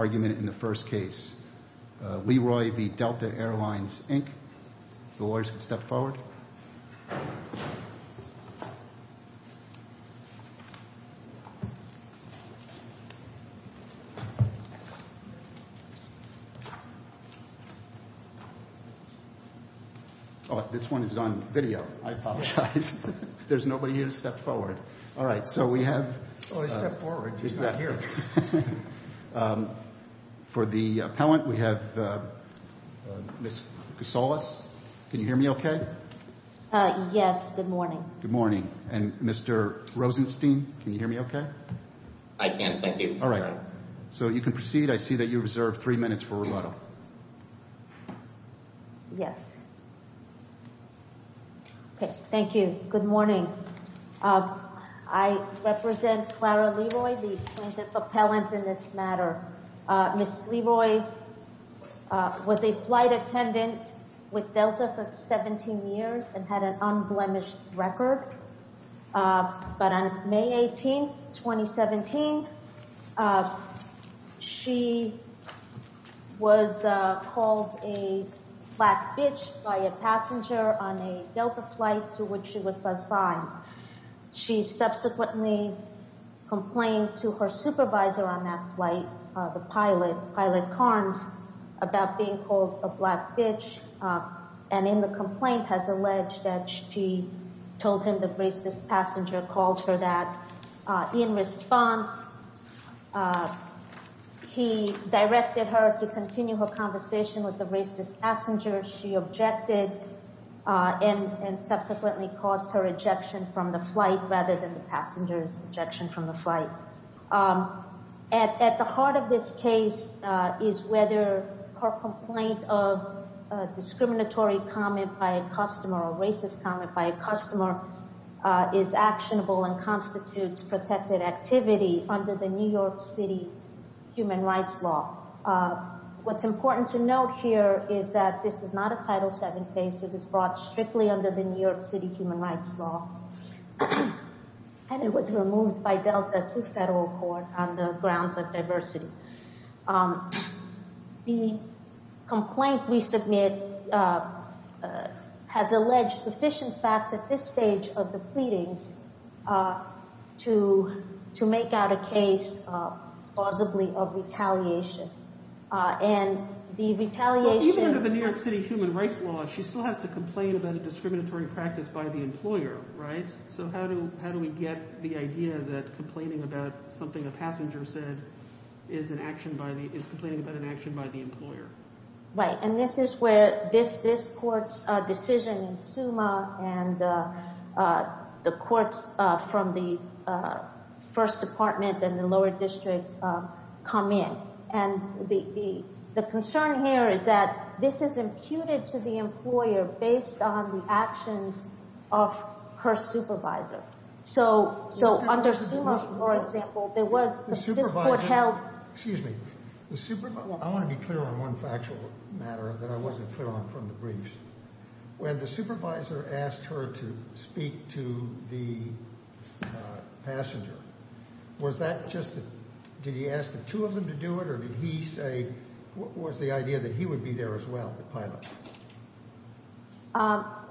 The lawyers can step forward. Oh, this one is on video. I apologize. There's nobody here to step forward. All right. So we have- Oh, I stepped forward. He's not here. For the appellant, we have Ms. Casales. Can you hear me okay? Yes. Good morning. Good morning. And Mr. Rosenstein, can you hear me okay? I can. Thank you. All right. So you can proceed. I see that you reserved three minutes for a roll call. Yes. Okay. Thank you. Good morning. Good morning. I represent Clara Leroy, the plaintiff appellant in this matter. Ms. Leroy was a flight attendant with Delta for 17 years and had an unblemished record. But on May 18, 2017, she was called a black bitch by a passenger on a Delta flight to which she was assigned. She subsequently complained to her supervisor on that flight, the pilot, Pilot Carnes, about being called a black bitch and in the complaint has alleged that she told him the racist passenger called her that. In response, he directed her to continue her conversation with the racist passenger. She objected and subsequently caused her ejection from the flight rather than the passenger's ejection from the flight. At the heart of this case is whether her complaint of discriminatory comment by a customer or racist comment by a customer is actionable and constitutes protected activity under the New York City human rights law. What's important to note here is that this is not a Title VII case. It was brought strictly under the New York City human rights law and it was removed by the federal court on the grounds of diversity. The complaint we submit has alleged sufficient facts at this stage of the pleadings to make out a case, plausibly, of retaliation. And the retaliation... Even under the New York City human rights law, she still has to complain about a discriminatory practice by the employer, right? So how do we get the idea that complaining about something a passenger said is complaining about an action by the employer? Right. And this is where this court's decision in SUMA and the courts from the First Department and the lower district come in. And the concern here is that this is imputed to the employer based on the actions of her supervisor. So under SUMA, for example, there was... The supervisor... This court held... Excuse me. The supervisor... I want to be clear on one factual matter that I wasn't clear on from the briefs. When the supervisor asked her to speak to the passenger, was that just... Did he ask the two of them to do it or did he say... What was the idea that he would be there as well, the pilot?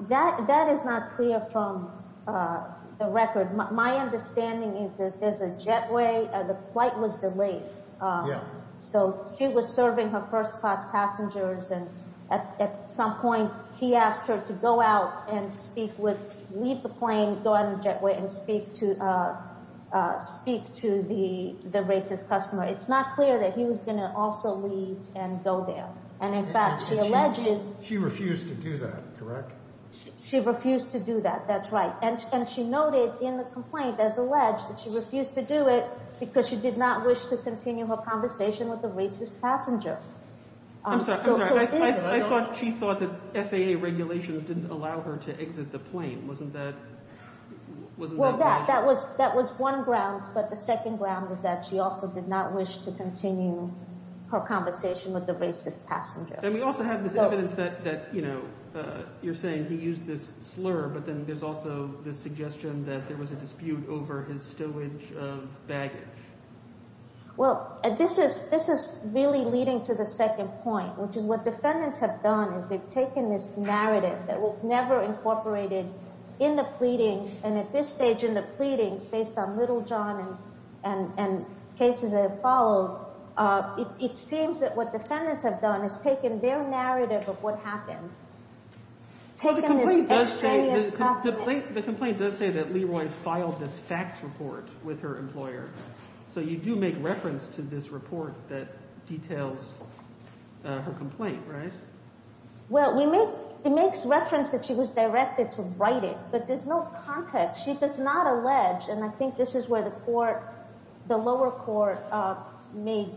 That is not clear from the record. My understanding is that there's a jetway, the flight was delayed. Yeah. So she was serving her first class passengers and at some point, he asked her to go out and speak with... Leave the plane, go out on the jetway and speak to the racist customer. It's not clear that he was going to also leave and go there. And in fact, she alleges... She refused to do that, correct? She refused to do that. That's right. And she noted in the complaint, as alleged, that she refused to do it because she did not wish to continue her conversation with the racist passenger. I'm sorry. I'm sorry. I thought she thought that FAA regulations didn't allow her to exit the plane. Wasn't that... Well, that was one ground. But the second ground was that she also did not wish to continue her conversation with the racist passenger. And we also have this evidence that you're saying he used this slur, but then there's also this suggestion that there was a dispute over his stowage of baggage. Well, this is really leading to the second point, which is what defendants have done is they've taken this narrative that was never incorporated in the pleadings. And at this stage in the pleadings, based on Littlejohn and cases that have followed, it seems that what defendants have done is taken their narrative of what happened, taken this extraneous document... The complaint does say that Leroy filed this facts report with her employer. So you do make reference to this report that details her complaint, right? Well, we make... It makes reference that she was directed to write it, but there's no context. She does not allege, and I think this is where the lower court made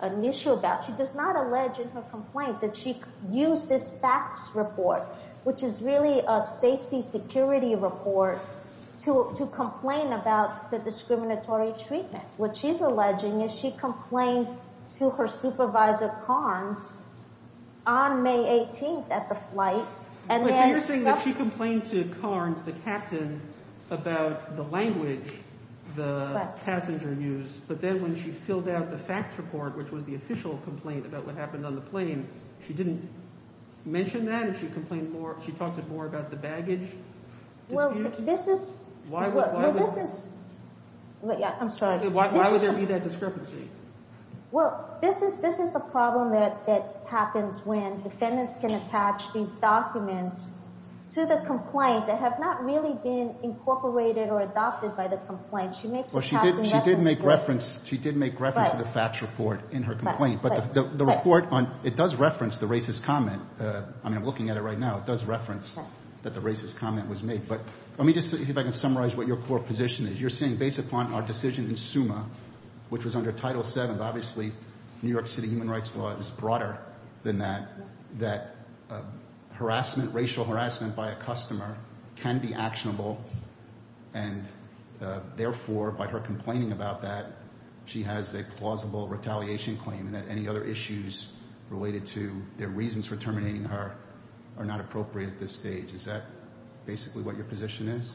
an issue about, she does not allege in her complaint that she used this facts report, which is really a safety security report, to complain about the discriminatory treatment. What she's alleging is she complained to her supervisor, Carnes, on May 18th at the flight. So you're saying that she complained to Carnes, the captain, about the language the passenger used, but then when she filled out the facts report, which was the official complaint about what happened on the plane, she didn't mention that? She talked more about the baggage dispute? Well, this is... Why would... Well, this is... Yeah, I'm sorry. Why would there be that discrepancy? Well, this is the problem that happens when defendants can attach these documents to the complaint that have not really been incorporated or adopted by the complaint. She makes a passing reference... Well, she did make reference to the facts report in her complaint, but the report on... It does reference the racist comment. I mean, I'm looking at it right now. It does reference that the racist comment was made, but let me just see if I can summarize what your core position is. You're saying, based upon our decision in SUMA, which was under Title VII, obviously New York City human rights law is broader than that, that harassment, racial harassment by a customer can be actionable, and therefore, by her complaining about that, she has a plausible retaliation claim and that any other issues related to their reasons for terminating her are not appropriate at this stage. Is that basically what your position is?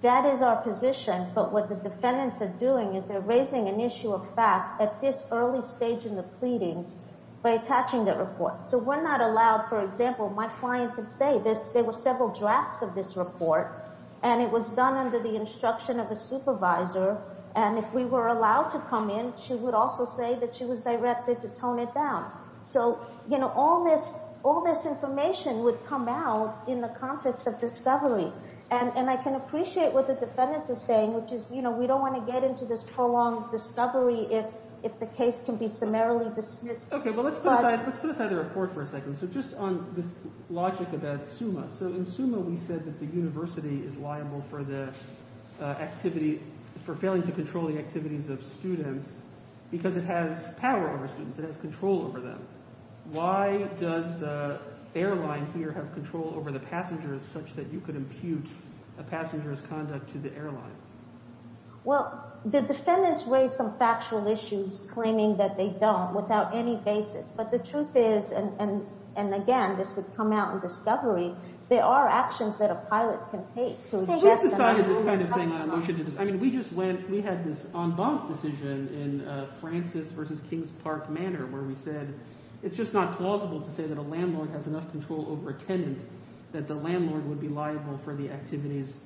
That is our position, but what the defendants are doing is they're raising an issue of fact at this early stage in the pleadings by attaching the report. So we're not allowed, for example, my client could say there were several drafts of this report and it was done under the instruction of a supervisor, and if we were allowed to come in, she would also say that she was directed to tone it down. So, you know, all this information would come out in the concepts of discovery, and I can appreciate what the defendant is saying, which is, you know, we don't want to get into this prolonged discovery if the case can be summarily dismissed. Okay, well, let's put aside the report for a second. So just on this logic about SUMA. So in SUMA we said that the university is liable for the activity, for failing to control the activities of students because it has power over students. It has control over them. Why does the airline here have control over the passengers such that you could impute a passenger's conduct to the airline? Well, the defendants raised some factual issues claiming that they don't without any basis, but the truth is, and again this would come out in discovery, there are actions that a pilot can take to eject them. I mean, we just went, we had this en banc decision in Francis versus Kings Park Manor where we said it's just not plausible to say that a landlord has enough control over a tenant that the landlord would be liable for the activities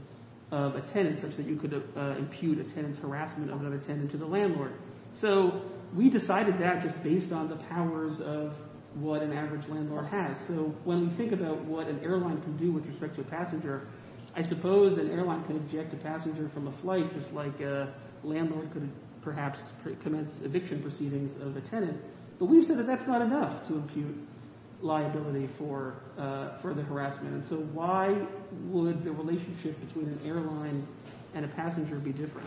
of a tenant such that you could impute a tenant's harassment of another tenant to the landlord. So we decided that just based on the powers of what an average landlord has. So when we think about what an airline can do with respect to a passenger, I suppose an airline can eject a passenger from a flight just like a landlord could perhaps commence eviction proceedings of a tenant. But we've said that that's not enough to impute liability for the harassment. So why would the relationship between an airline and a passenger be different?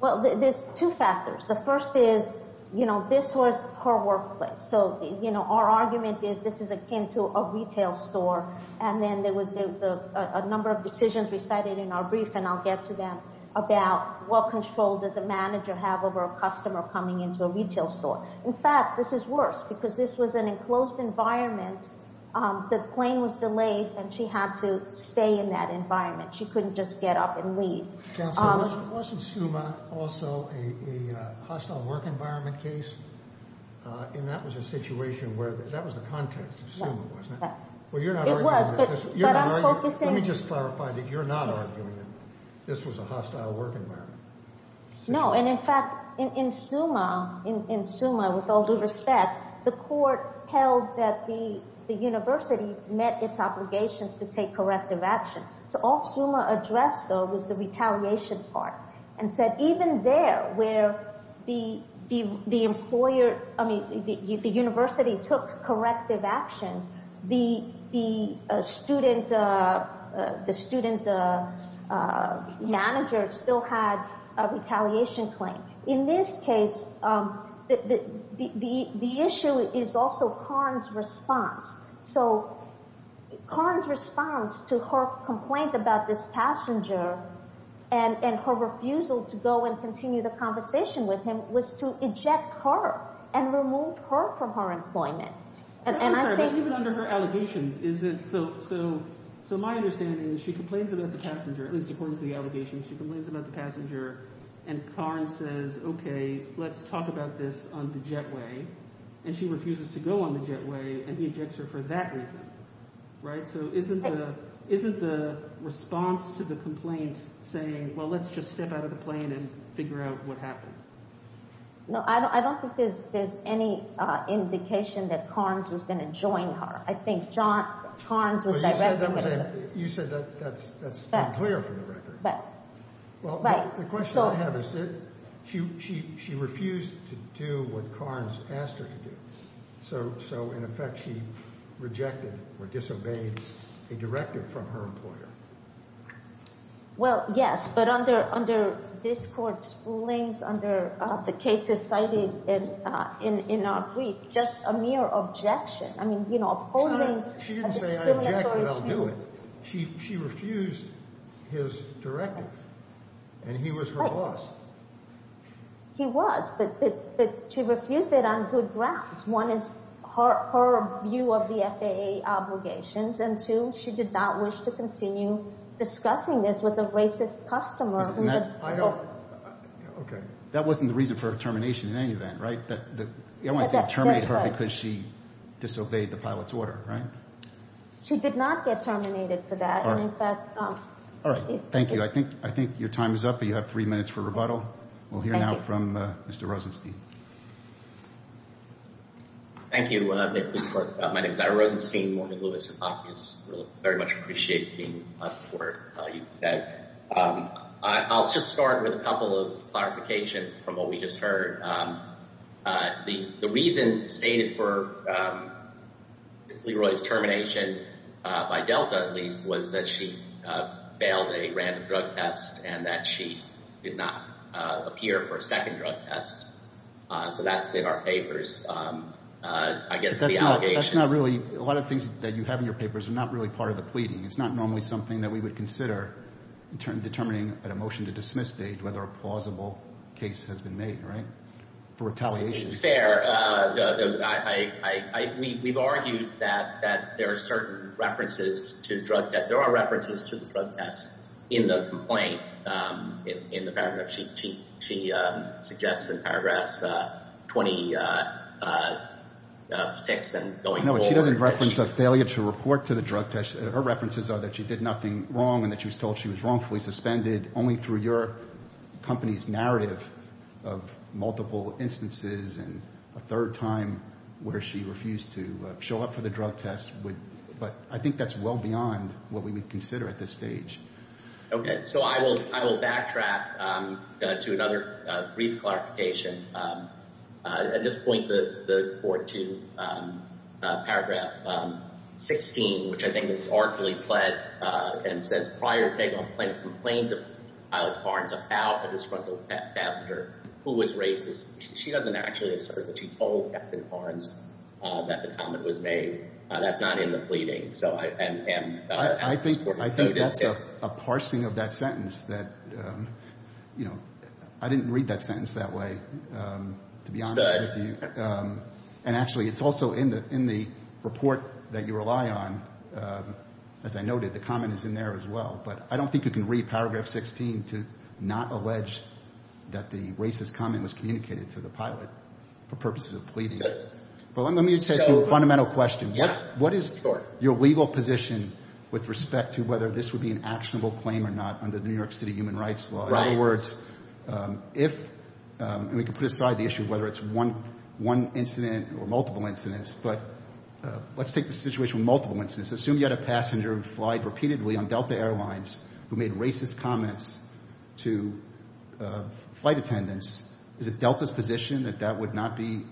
Well, there's two factors. The first is, you know, this was her workplace. So, you know, our argument is this is akin to a retail store and then there was a number of decisions recited in our brief, and I'll get to them, about what control does a manager have over a customer coming into a retail store. In fact, this is worse because this was an enclosed environment. The plane was delayed and she had to stay in that environment. She couldn't just get up and leave. Chancellor, wasn't SUMA also a hostile work environment case? And that was a situation where, that was the context of SUMA, wasn't it? Well, you're not arguing that. It was, but I'm focusing... Let me just clarify that you're not arguing that this was a hostile work environment. No, and in fact, in SUMA, with all due respect, the court held that the university met its obligations to take corrective action. So all SUMA addressed, though, was the retaliation part and said even there where the employer, I mean, the university took corrective action, the student manager still had a retaliation claim. In this case, the issue is also Karn's response. So Karn's response to her complaint about this passenger and her refusal to go and continue the conversation with him was to eject her and remove her from her employment. I'm sorry, but even under her allegations, is it... So my understanding is she complains about the passenger, at least according to the allegations, she complains about the passenger, and Karn says, okay, let's talk about this on the jetway, and she refuses to go on the jetway, and he ejects her for that reason, right? So isn't the response to the complaint saying, well, let's just step out of the plane and figure out what happened? No, I don't think there's any indication that Karn's was going to join her. I think Karn's was directing with her. You said that's unclear from the record. Well, the question I have is she refused to do what Karn's asked her to do, so in effect she rejected or disobeyed a directive from her employer. Well, yes, but under this court's rulings, under the cases cited in our brief, just a mere objection. I mean, you know, opposing... She didn't say I object, but I'll do it. She refused his directive, and he was her boss. He was, but she refused it on good grounds. One is her view of the FAA obligations, and two, she did not wish to continue discussing this with a racist customer. Okay. That wasn't the reason for her termination in any event, right? Everyone wants to terminate her because she disobeyed the pilot's order, right? She did not get terminated for that. All right. Thank you. I think your time is up. You have three minutes for rebuttal. We'll hear now from Mr. Rosenstein. Thank you. My name is Ira Rosenstein. Morning, Louis. I very much appreciate being up for you today. I'll just start with a couple of clarifications from what we just heard. The reason stated for LeRoy's termination, by Delta at least, was that she failed a random drug test and that she did not appear for a second drug test. So that's in our papers. I guess that's the allegation. That's not really. A lot of things that you have in your papers are not really part of the pleading. It's not normally something that we would consider determining at a motion to dismiss stage whether a plausible case has been made, right, for retaliation. It's fair. We've argued that there are certain references to drug tests. There are references to the drug tests in the complaint. She suggests in paragraphs 26 and going forward. No, she doesn't reference a failure to report to the drug test. Her references are that she did nothing wrong and that she was told she was wrongfully suspended only through your company's narrative of multiple instances and a third time where she refused to show up for the drug test. But I think that's well beyond what we would consider at this stage. Okay. So I will backtrack to another brief clarification. At this point, the board to paragraph 16, which I think is artfully fled and says prior to taking on plain complaints of I like Barnes about a disgruntled passenger who was racist. She doesn't actually assert that she told Captain Barnes that the comment was made. That's not in the pleading. I think that's a parsing of that sentence. I didn't read that sentence that way, to be honest with you. And actually, it's also in the report that you rely on. As I noted, the comment is in there as well. But I don't think you can read paragraph 16 to not allege that the racist comment was communicated to the pilot for purposes of pleading. But let me ask you a fundamental question. What is your legal position with respect to whether this would be an actionable claim or not under the New York City Human Rights Law? In other words, if we could put aside the issue of whether it's one incident or multiple incidents. But let's take the situation with multiple incidents. Assume you had a passenger who flied repeatedly on Delta Airlines who made racist comments to flight attendants. Is it Delta's position that that would not be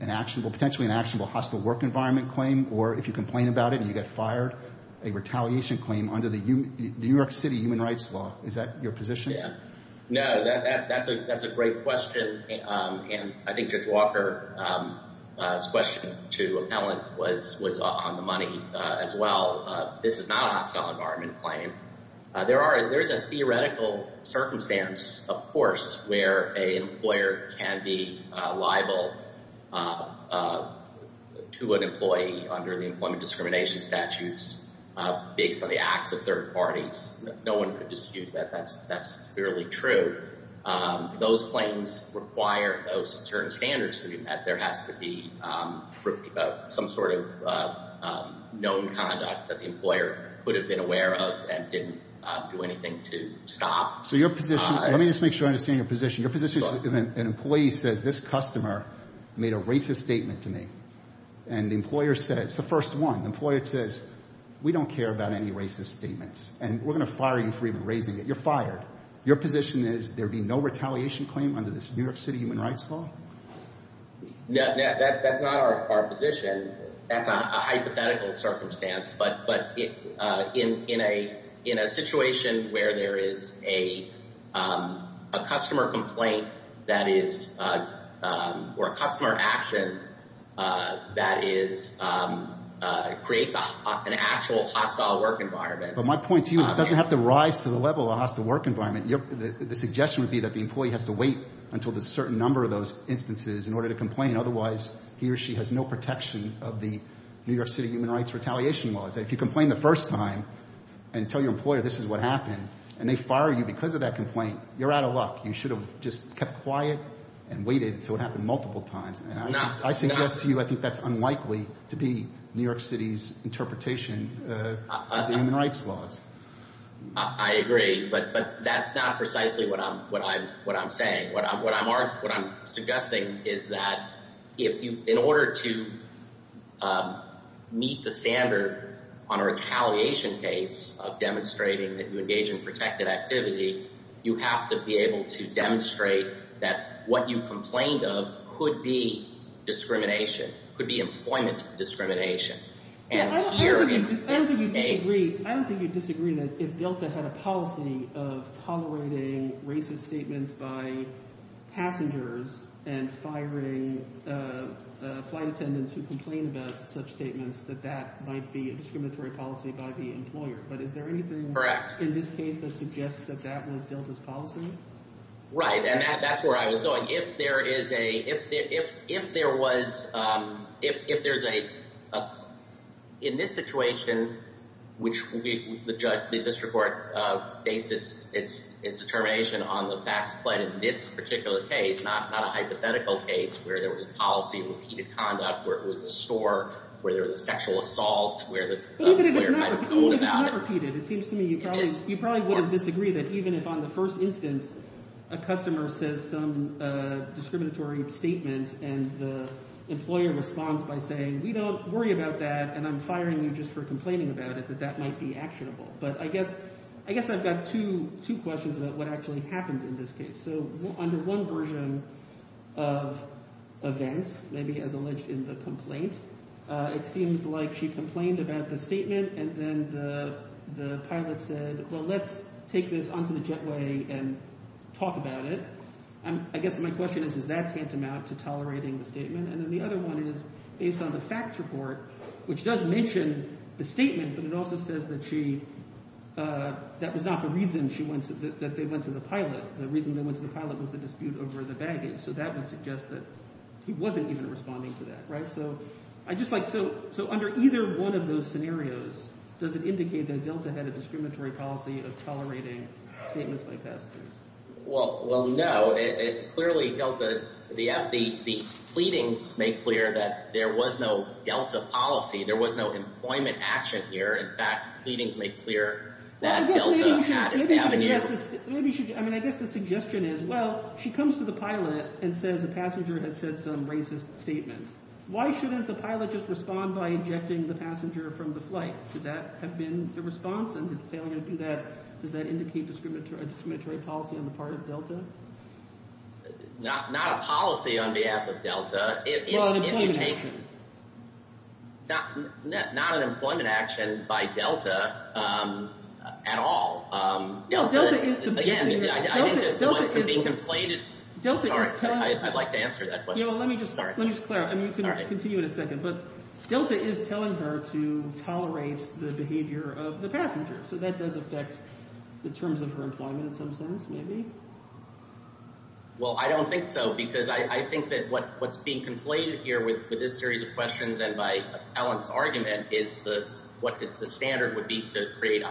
an actionable, potentially an actionable hostile work environment claim? Or if you complain about it and you get fired, a retaliation claim under the New York City Human Rights Law. Is that your position? No, that's a great question. And I think Judge Walker's question to Appellant was on the money as well. This is not a hostile environment claim. There's a theoretical circumstance, of course, where an employer can be liable to an employee under the employment discrimination statutes based on the acts of third parties. No one could dispute that. That's clearly true. Those claims require those certain standards to be met. There has to be some sort of known conduct that the employer would have been aware of and didn't do anything to stop. So your position, let me just make sure I understand your position. Your position is an employee says this customer made a racist statement to me. And the employer said, it's the first one, the employer says, we don't care about any racist statements. And we're going to fire you for even raising it. You're fired. Your position is there would be no retaliation claim under this New York City Human Rights Law? No, that's not our position. That's a hypothetical circumstance. But in a situation where there is a customer complaint that is or a customer action that creates an actual hostile work environment. But my point to you, it doesn't have to rise to the level of a hostile work environment. The suggestion would be that the employee has to wait until a certain number of those instances in order to complain. Otherwise, he or she has no protection of the New York City Human Rights retaliation laws. If you complain the first time and tell your employer this is what happened and they fire you because of that complaint, you're out of luck. You should have just kept quiet and waited until it happened multiple times. I suggest to you I think that's unlikely to be New York City's interpretation of the human rights laws. I agree. But that's not precisely what I'm saying. What I'm suggesting is that in order to meet the standard on a retaliation case of demonstrating that you engage in protected activity, you have to be able to demonstrate that what you complained of could be discrimination, could be employment discrimination. I don't think you'd disagree that if Delta had a policy of tolerating racist statements by passengers and firing flight attendants who complained about such statements, that that might be a discriminatory policy by the employer. But is there anything in this case that suggests that that was Delta's policy? Right, and that's where I was going. If there is a – if there was – if there's a – in this situation, which the district court based its determination on the facts, but in this particular case, not a hypothetical case where there was a policy of repeated conduct, where it was a store, where there was a sexual assault, where the employer might have pulled out. You probably would have disagreed that even if on the first instance a customer says some discriminatory statement and the employer responds by saying, we don't worry about that and I'm firing you just for complaining about it, that that might be actionable. But I guess I've got two questions about what actually happened in this case. So under one version of events, maybe as alleged in the complaint, it seems like she complained about the statement and then the pilot said, well, let's take this onto the jetway and talk about it. I guess my question is, is that tantamount to tolerating the statement? And then the other one is, based on the facts report, which does mention the statement, but it also says that she – that was not the reason she went to – that they went to the pilot. The reason they went to the pilot was the dispute over the baggage, so that would suggest that he wasn't even responding to that. So I just like – so under either one of those scenarios, does it indicate that Delta had a discriminatory policy of tolerating statements by passengers? Well, no. It clearly – Delta – the pleadings make clear that there was no Delta policy. There was no employment action here. In fact, pleadings make clear that Delta had – Maybe you should – I mean I guess the suggestion is, well, she comes to the pilot and says a passenger has said some racist statement. Why shouldn't the pilot just respond by ejecting the passenger from the flight? Does that have been the response and his failure to do that? Does that indicate a discriminatory policy on the part of Delta? Not a policy on behalf of Delta. Well, an employment action. Not an employment action by Delta at all. No, Delta is – Again, I think the point could be conflated. Delta is – Sorry, I'd like to answer that question. No, let me just – Sorry. Let me just clarify. All right. I'll continue in a second. But Delta is telling her to tolerate the behavior of the passenger. So that does affect the terms of her employment in some sense maybe? Well, I don't think so because I think that what's being conflated here with this series of questions and by Alan's argument is the – what the standard would be to create a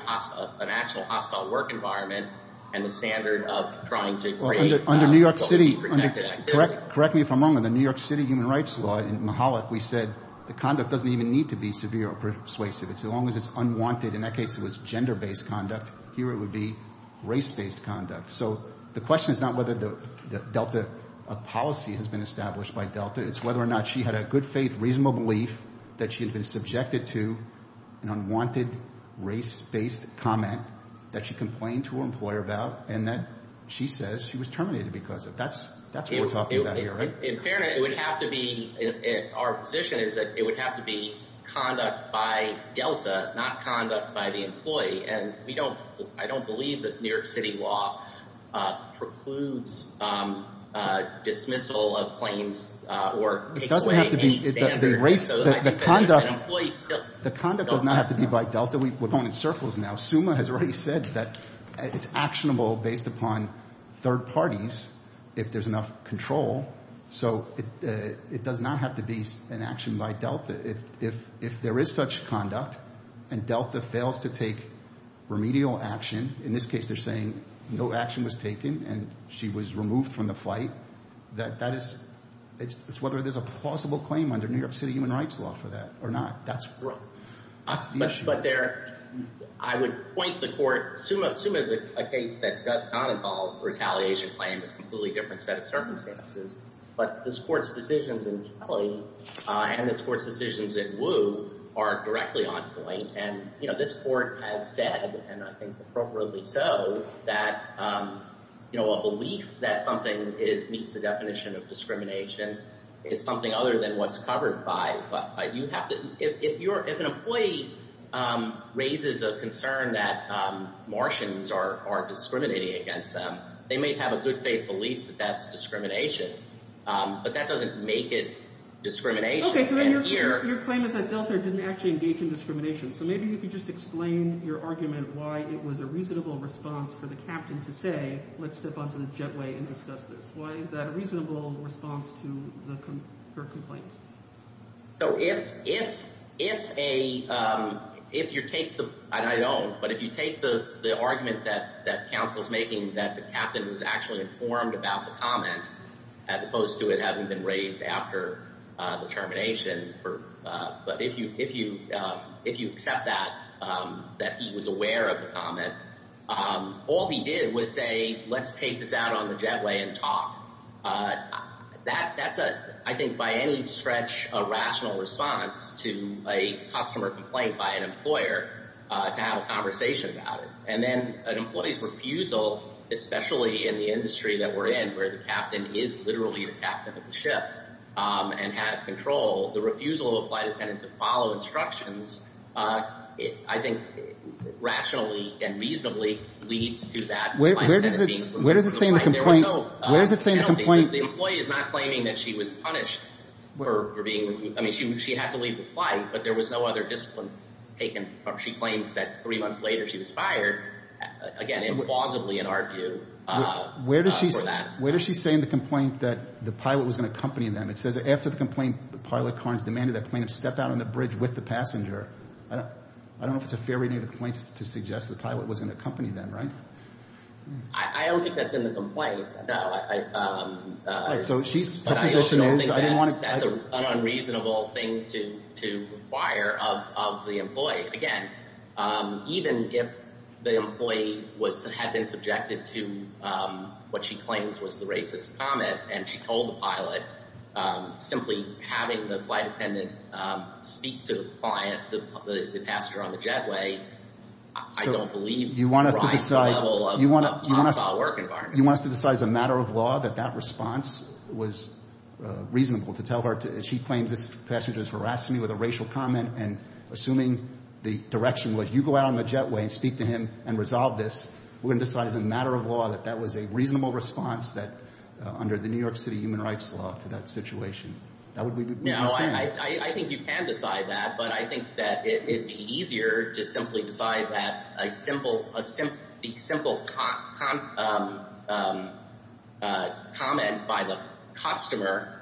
– an actual hostile work environment and the standard of trying to create – Under New York City – Protected activity. Correct me if I'm wrong. In the New York City human rights law, in Mahalik, we said the conduct doesn't even need to be severe or persuasive. It's as long as it's unwanted. In that case, it was gender-based conduct. Here it would be race-based conduct. So the question is not whether the Delta policy has been established by Delta. It's whether or not she had a good faith, reasonable belief that she had been subjected to an unwanted race-based comment that she complained to her employer about and that she says she was terminated because of. That's what we're talking about here, right? In fairness, it would have to be – our position is that it would have to be conduct by Delta, not conduct by the employee. And we don't – I don't believe that New York City law precludes dismissal of claims or takes away any standards. It doesn't have to be – the conduct – So I think that an employee still – The conduct does not have to be by Delta. We're going in circles now. Summa has already said that it's actionable based upon third parties if there's enough control. So it does not have to be an action by Delta. If there is such conduct and Delta fails to take remedial action, in this case they're saying no action was taken and she was removed from the flight, that is – it's whether there's a plausible claim under New York City human rights law for that or not. That's the issue. But there – I would point the court – Summa is a case that does not involve retaliation claim, a completely different set of circumstances. But this Court's decisions in Kelly and this Court's decisions in Wu are directly on point. And, you know, this Court has said, and I think appropriately so, that, you know, a belief that something meets the definition of discrimination is something other than what's covered by – you have to – if you're – if an employee raises a concern that Martians are discriminating against them, they may have a good faith belief that that's discrimination. But that doesn't make it discrimination. Okay. So then your claim is that Delta didn't actually engage in discrimination. So maybe you could just explain your argument why it was a reasonable response for the captain to say, let's step onto the jetway and discuss this. Why is that a reasonable response to her complaint? So if a – if you take the – and I don't. But if you take the argument that counsel is making that the captain was actually informed about the comment, as opposed to it having been raised after the termination for – but if you accept that, that he was aware of the comment, all he did was say, let's take this out on the jetway and talk. That's a – I think by any stretch a rational response to a customer complaint by an employer to have a conversation about it. And then an employee's refusal, especially in the industry that we're in, where the captain is literally the captain of the ship and has control, the refusal of a flight attendant to follow instructions, I think, rationally and reasonably leads to that. Where does it – where does it say in the complaint – where does it say in the complaint – The employee is not claiming that she was punished for being – I mean, she had to leave the flight, but there was no other discipline taken. She claims that three months later she was fired, again, implausibly in our view, for that. Where does she say in the complaint that the pilot was going to accompany them? It says after the complaint, the pilot, Karnes, demanded that the plane step out on the bridge with the passenger. I don't know if it's a fair reading of the complaints to suggest the pilot was going to accompany them, right? I don't think that's in the complaint. No, I – All right, so she's – her position is – But I don't think that's an unreasonable thing to require of the employee. Again, even if the employee was – had been subjected to what she claims was the racist comment and she told the pilot, simply having the flight attendant speak to the client, the passenger on the jetway, I don't believe – You want us to decide –– the right level of hostile work environment. You want us to decide as a matter of law that that response was reasonable to tell her to – she claims this passenger has harassed me with a racial comment, and assuming the direction was, you go out on the jetway and speak to him and resolve this, we're going to decide as a matter of law that that was a reasonable response that – under the New York City human rights law to that situation. That would be – No, I think you can decide that, but I think that it would be easier to simply decide that a simple – a simple – the simple comment by the customer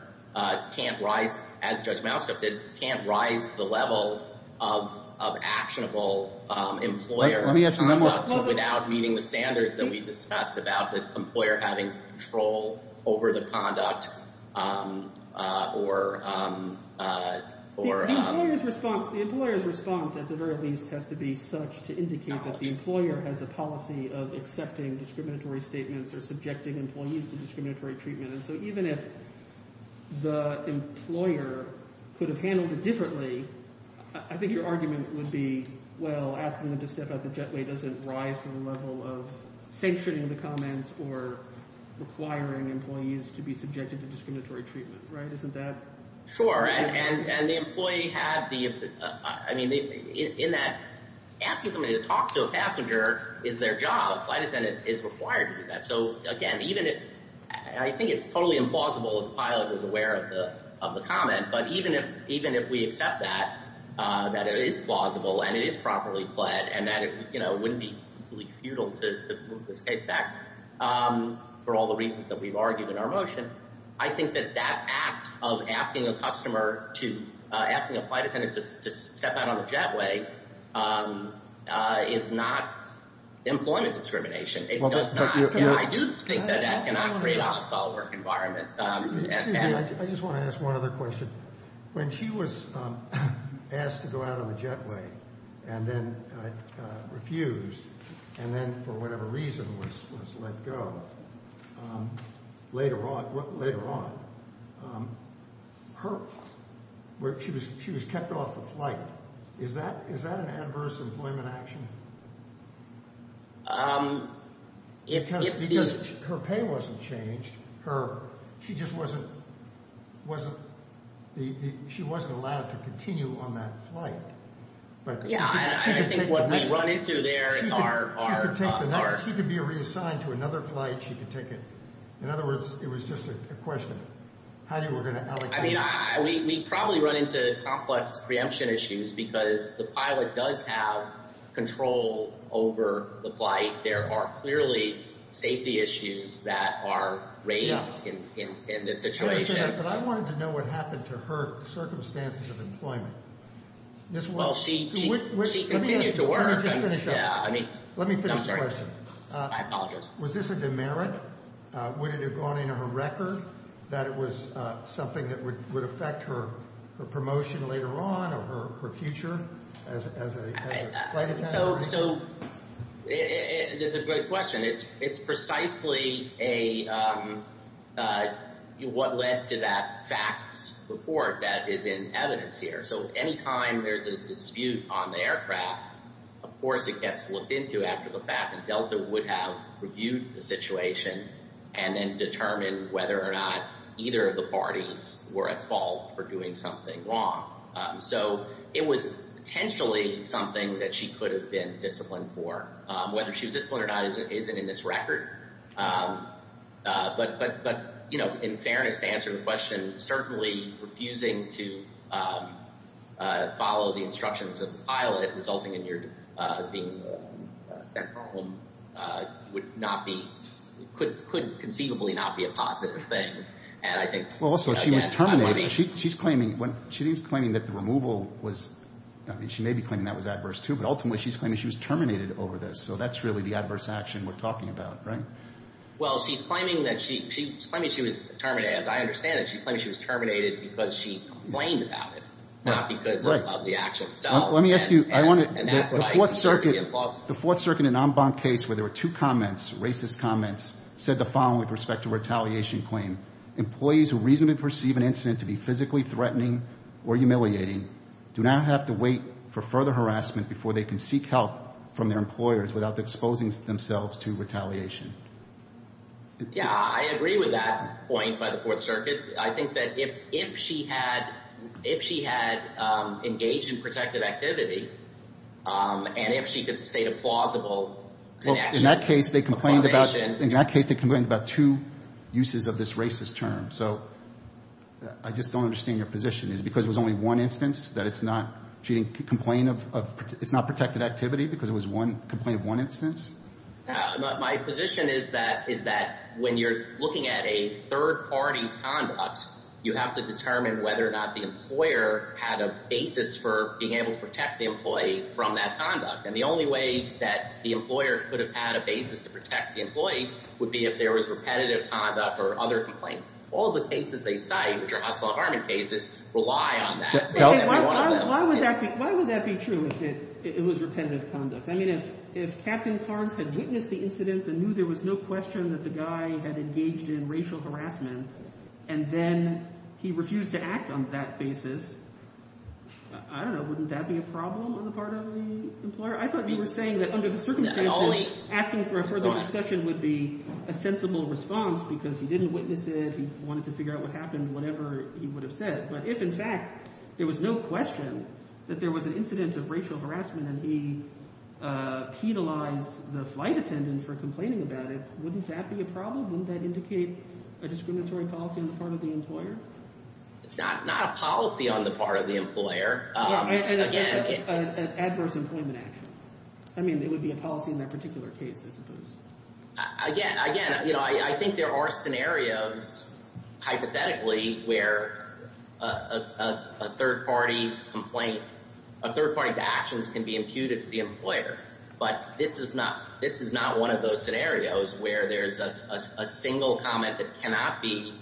can't rise, as Judge Malstrup did, can't rise to the level of actionable employer conduct without meeting the standards that we discussed about the employer having control over the conduct or – The employer's response – the employer's response, at the very least, has to be such to indicate that the employer has a policy of accepting discriminatory statements or subjecting employees to discriminatory treatment. And so even if the employer could have handled it differently, I think your argument would be, well, asking them to step out of the jetway doesn't rise to the level of sanctioning the comment or requiring employees to be subjected to discriminatory treatment, right? Isn't that – Sure. And the employee had the – I mean, in that asking somebody to talk to a passenger is their job. A flight attendant is required to do that. So, again, even if – I think it's totally implausible if the pilot was aware of the comment, but even if we accept that, that it is plausible and it is properly pled, and that it wouldn't be futile to move this case back for all the reasons that we've argued in our motion, I think that that act of asking a customer to – asking a flight attendant to step out of the jetway is not employment discrimination. It does not. I do think that that cannot create a hostile work environment. Excuse me. I just want to ask one other question. When she was asked to go out of the jetway and then refused and then, for whatever reason, was let go, later on, she was kept off the flight. Is that an adverse employment action? Because her pay wasn't changed. She just wasn't – she wasn't allowed to continue on that flight. Yeah, and I think what we run into there in our – She could be reassigned to another flight. She could take a – in other words, it was just a question. How you were going to – I mean, we probably run into complex preemption issues because the pilot does have control over the flight. There are clearly safety issues that are raised in this situation. But I wanted to know what happened to her circumstances of employment. Well, she continued to work. Let me just finish up. Let me finish the question. I'm sorry. I apologize. Was this a demerit? Would it have gone into her record that it was something that would affect her promotion later on or her future as a flight attendant? So there's a great question. It's precisely a – what led to that FACTS report that is in evidence here. So any time there's a dispute on the aircraft, of course, it gets looked into after the fact. And Delta would have reviewed the situation and then determined whether or not either of the parties were at fault for doing something wrong. So it was potentially something that she could have been disciplined for. Whether she was disciplined or not isn't in this record. But in fairness to answer the question, certainly refusing to follow the instructions of the pilot resulting in your being sent home would not be – could conceivably not be a positive thing. And I think – Well, also, she was terminated. She's claiming that the removal was – I mean, she may be claiming that was adverse too. But ultimately, she's claiming she was terminated over this. So that's really the adverse action we're talking about, right? Well, she's claiming that she – she's claiming she was terminated. As I understand it, she's claiming she was terminated because she complained about it, not because of the actual cells. Let me ask you – I want to – the Fourth Circuit – And that's what I think would be impossible. The Fourth Circuit, an en banc case where there were two comments, racist comments, said the following with respect to a retaliation claim. Employees who reasonably perceive an incident to be physically threatening or humiliating do not have to wait for further harassment before they can seek help from their employers without exposing themselves to retaliation. Yeah. I agree with that point by the Fourth Circuit. I think that if she had – if she had engaged in protective activity and if she could state a plausible connection – Well, in that case, they complained about –– accusation. In that case, they complained about two uses of this racist term. So I just don't understand your position. Is it because it was only one instance that it's not – she didn't complain of – it's not protected activity because it was one – complained of one instance? My position is that – is that when you're looking at a third party's conduct, you have to determine whether or not the employer had a basis for being able to protect the employee from that conduct. And the only way that the employer could have had a basis to protect the employee would be if there was repetitive conduct or other complaints. All the cases they cite, which are Hustler-Harman cases, rely on that. Why would that be – why would that be true if it was repetitive conduct? I mean if Captain Clarence had witnessed the incident and knew there was no question that the guy had engaged in racial harassment and then he refused to act on that basis, I don't know, wouldn't that be a problem on the part of the employer? I thought you were saying that under the circumstances, asking for a further discussion would be a sensible response because he didn't witness it. He wanted to figure out what happened, whatever he would have said. But if, in fact, there was no question that there was an incident of racial harassment and he penalized the flight attendant for complaining about it, wouldn't that be a problem? Wouldn't that indicate a discriminatory policy on the part of the employer? Not a policy on the part of the employer. Yeah, and an adverse employment action. I mean it would be a policy in that particular case, I suppose. Again, I think there are scenarios, hypothetically, where a third party's complaint – a third party's actions can be imputed to the employer. But this is not one of those scenarios where there's a single comment that cannot be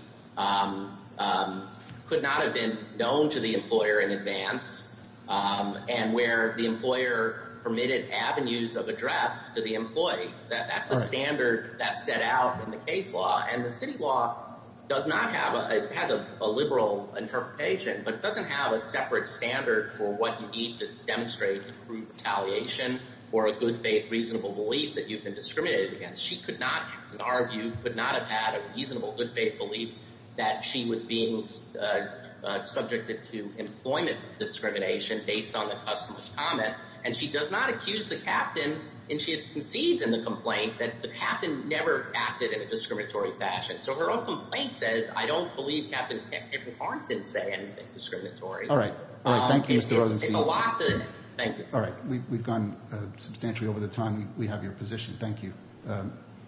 – could not have been known to the employer in advance and where the employer permitted avenues of address to the employee. That's the standard that's set out in the case law. And the city law does not have – it has a liberal interpretation, but it doesn't have a separate standard for what you need to demonstrate to prove retaliation or a good faith, reasonable belief that you've been discriminated against. She could not, in our view, could not have had a reasonable good faith belief that she was being subjected to employment discrimination based on the customer's comment. And she does not accuse the captain, and she concedes in the complaint, that the captain never acted in a discriminatory fashion. So her own complaint says, I don't believe Captain Hickman-Harris didn't say anything discriminatory. All right. Thank you, Mr. Rosenstein. It's a lot to – thank you. All right. We've gone substantially over the time we have your position. Thank you.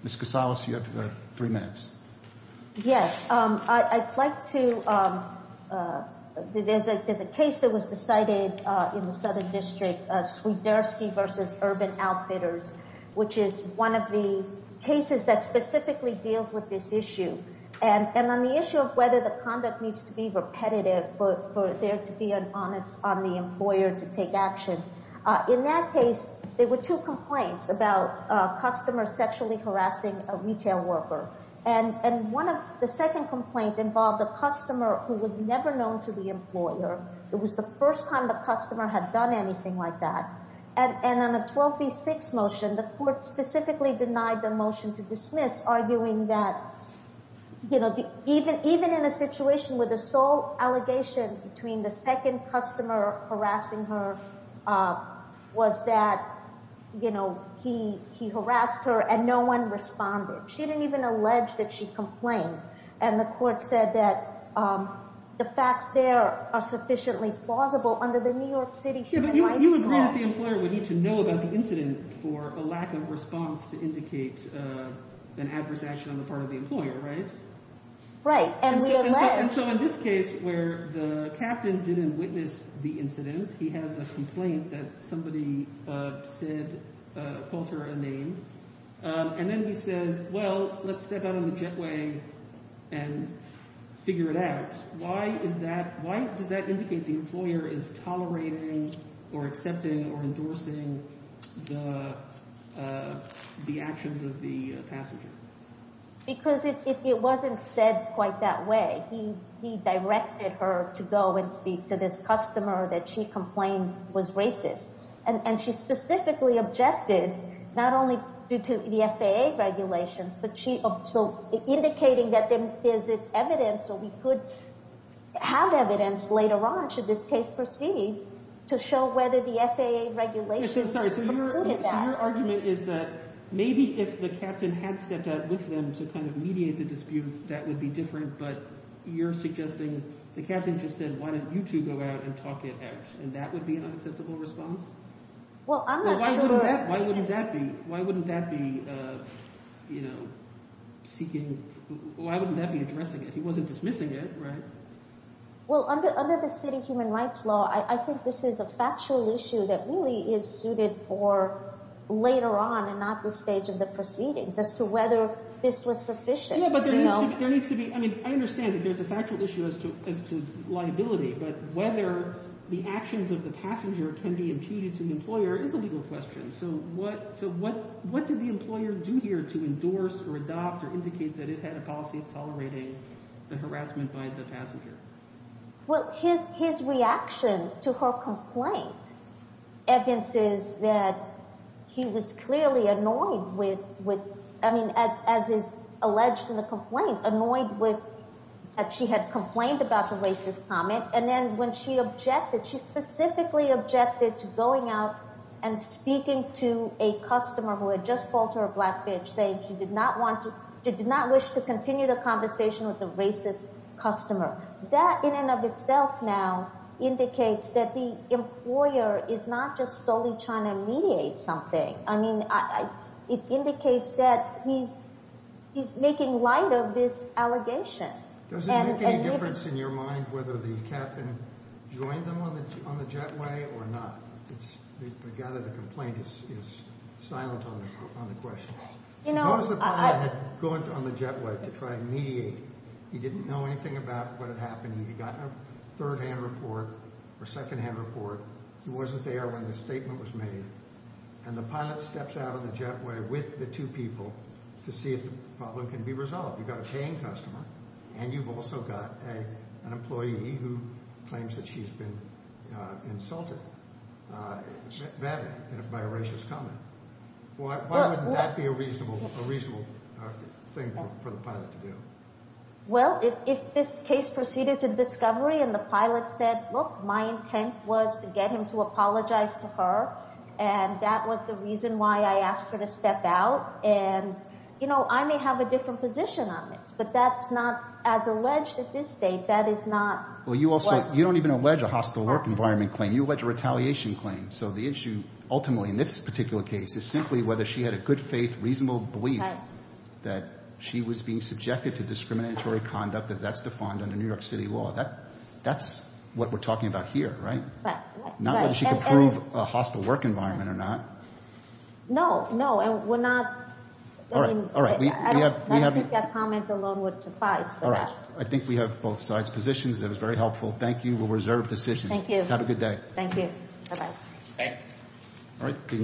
Ms. Casales, you have three minutes. Yes. I'd like to – there's a case that was decided in the Southern District, Swiderski v. Urban Outfitters, which is one of the cases that specifically deals with this issue. And on the issue of whether the conduct needs to be repetitive for there to be an onus on the employer to take action, in that case there were two complaints about a customer sexually harassing a retail worker. And one of – the second complaint involved a customer who was never known to the employer. It was the first time the customer had done anything like that. And on the 12 v. 6 motion, the court specifically denied the motion to dismiss, arguing that, you know, even in a situation where the sole allegation between the second customer harassing her was that, you know, he harassed her and no one responded. She didn't even allege that she complained. And the court said that the facts there are sufficiently plausible under the New York City human rights law. But you agree that the employer would need to know about the incident for a lack of response to indicate an adverse action on the part of the employer, right? Right. And we allege – And so in this case where the captain didn't witness the incident, he has a complaint that somebody said – called her a name. And then he says, well, let's step out on the jetway and figure it out. Why is that – why does that indicate the employer is tolerating or accepting or endorsing the actions of the passenger? Because if it wasn't said quite that way, he directed her to go and speak to this customer that she complained was racist. And she specifically objected, not only due to the FAA regulations, but she – so indicating that there is evidence or we could have evidence later on, should this case proceed, to show whether the FAA regulations included that. So your argument is that maybe if the captain had stepped out with them to kind of mediate the dispute, that would be different. But you're suggesting – the captain just said, why don't you two go out and talk it out, and that would be an unacceptable response? Well, I'm not sure – Why wouldn't that be – why wouldn't that be seeking – why wouldn't that be addressing it? He wasn't dismissing it, right? Well, under the city human rights law, I think this is a factual issue that really is suited for later on and not this stage of the proceedings, as to whether this was sufficient. Yeah, but there needs to be – I mean, I understand that there's a factual issue as to liability, but whether the actions of the passenger can be imputed to the employer is a legal question. So what did the employer do here to endorse or adopt or indicate that it had a policy of tolerating the harassment by the passenger? Well, his reaction to her complaint evidences that he was clearly annoyed with – I mean, as is alleged in the complaint, annoyed with that she had complained about the racist comment. And then when she objected, she specifically objected to going out and speaking to a customer who had just called her a black bitch, saying she did not want to – she did not wish to continue the conversation with the racist customer. That in and of itself now indicates that the employer is not just solely trying to mediate something. I mean, it indicates that he's making light of this allegation. Does it make any difference in your mind whether the captain joined them on the jetway or not? I gather the complaint is silent on the question. Suppose the pilot had gone on the jetway to try and mediate. He didn't know anything about what had happened. He'd gotten a third-hand report or second-hand report. He wasn't there when the statement was made, and the pilot steps out on the jetway with the two people to see if the problem can be resolved. You've got a paying customer, and you've also got an employee who claims that she's been insulted badly by a racist comment. Why wouldn't that be a reasonable thing for the pilot to do? Well, if this case proceeded to discovery and the pilot said, look, my intent was to get him to apologize to her, and that was the reason why I asked her to step out. And I may have a different position on this, but that's not – as alleged at this date, that is not – Well, you also – you don't even allege a hostile work environment claim. You allege a retaliation claim. So the issue ultimately in this particular case is simply whether she had a good faith, reasonable belief that she was being subjected to discriminatory conduct as that's defined under New York City law. That's what we're talking about here, right? Right. Not whether she can prove a hostile work environment or not. No, no, and we're not – All right. All right. We have – I don't think that comment alone would suffice. All right. I think we have both sides' positions. That was very helpful. Thank you. We'll reserve the session. Thank you. Have a good day. Thank you. Bye-bye. Thanks.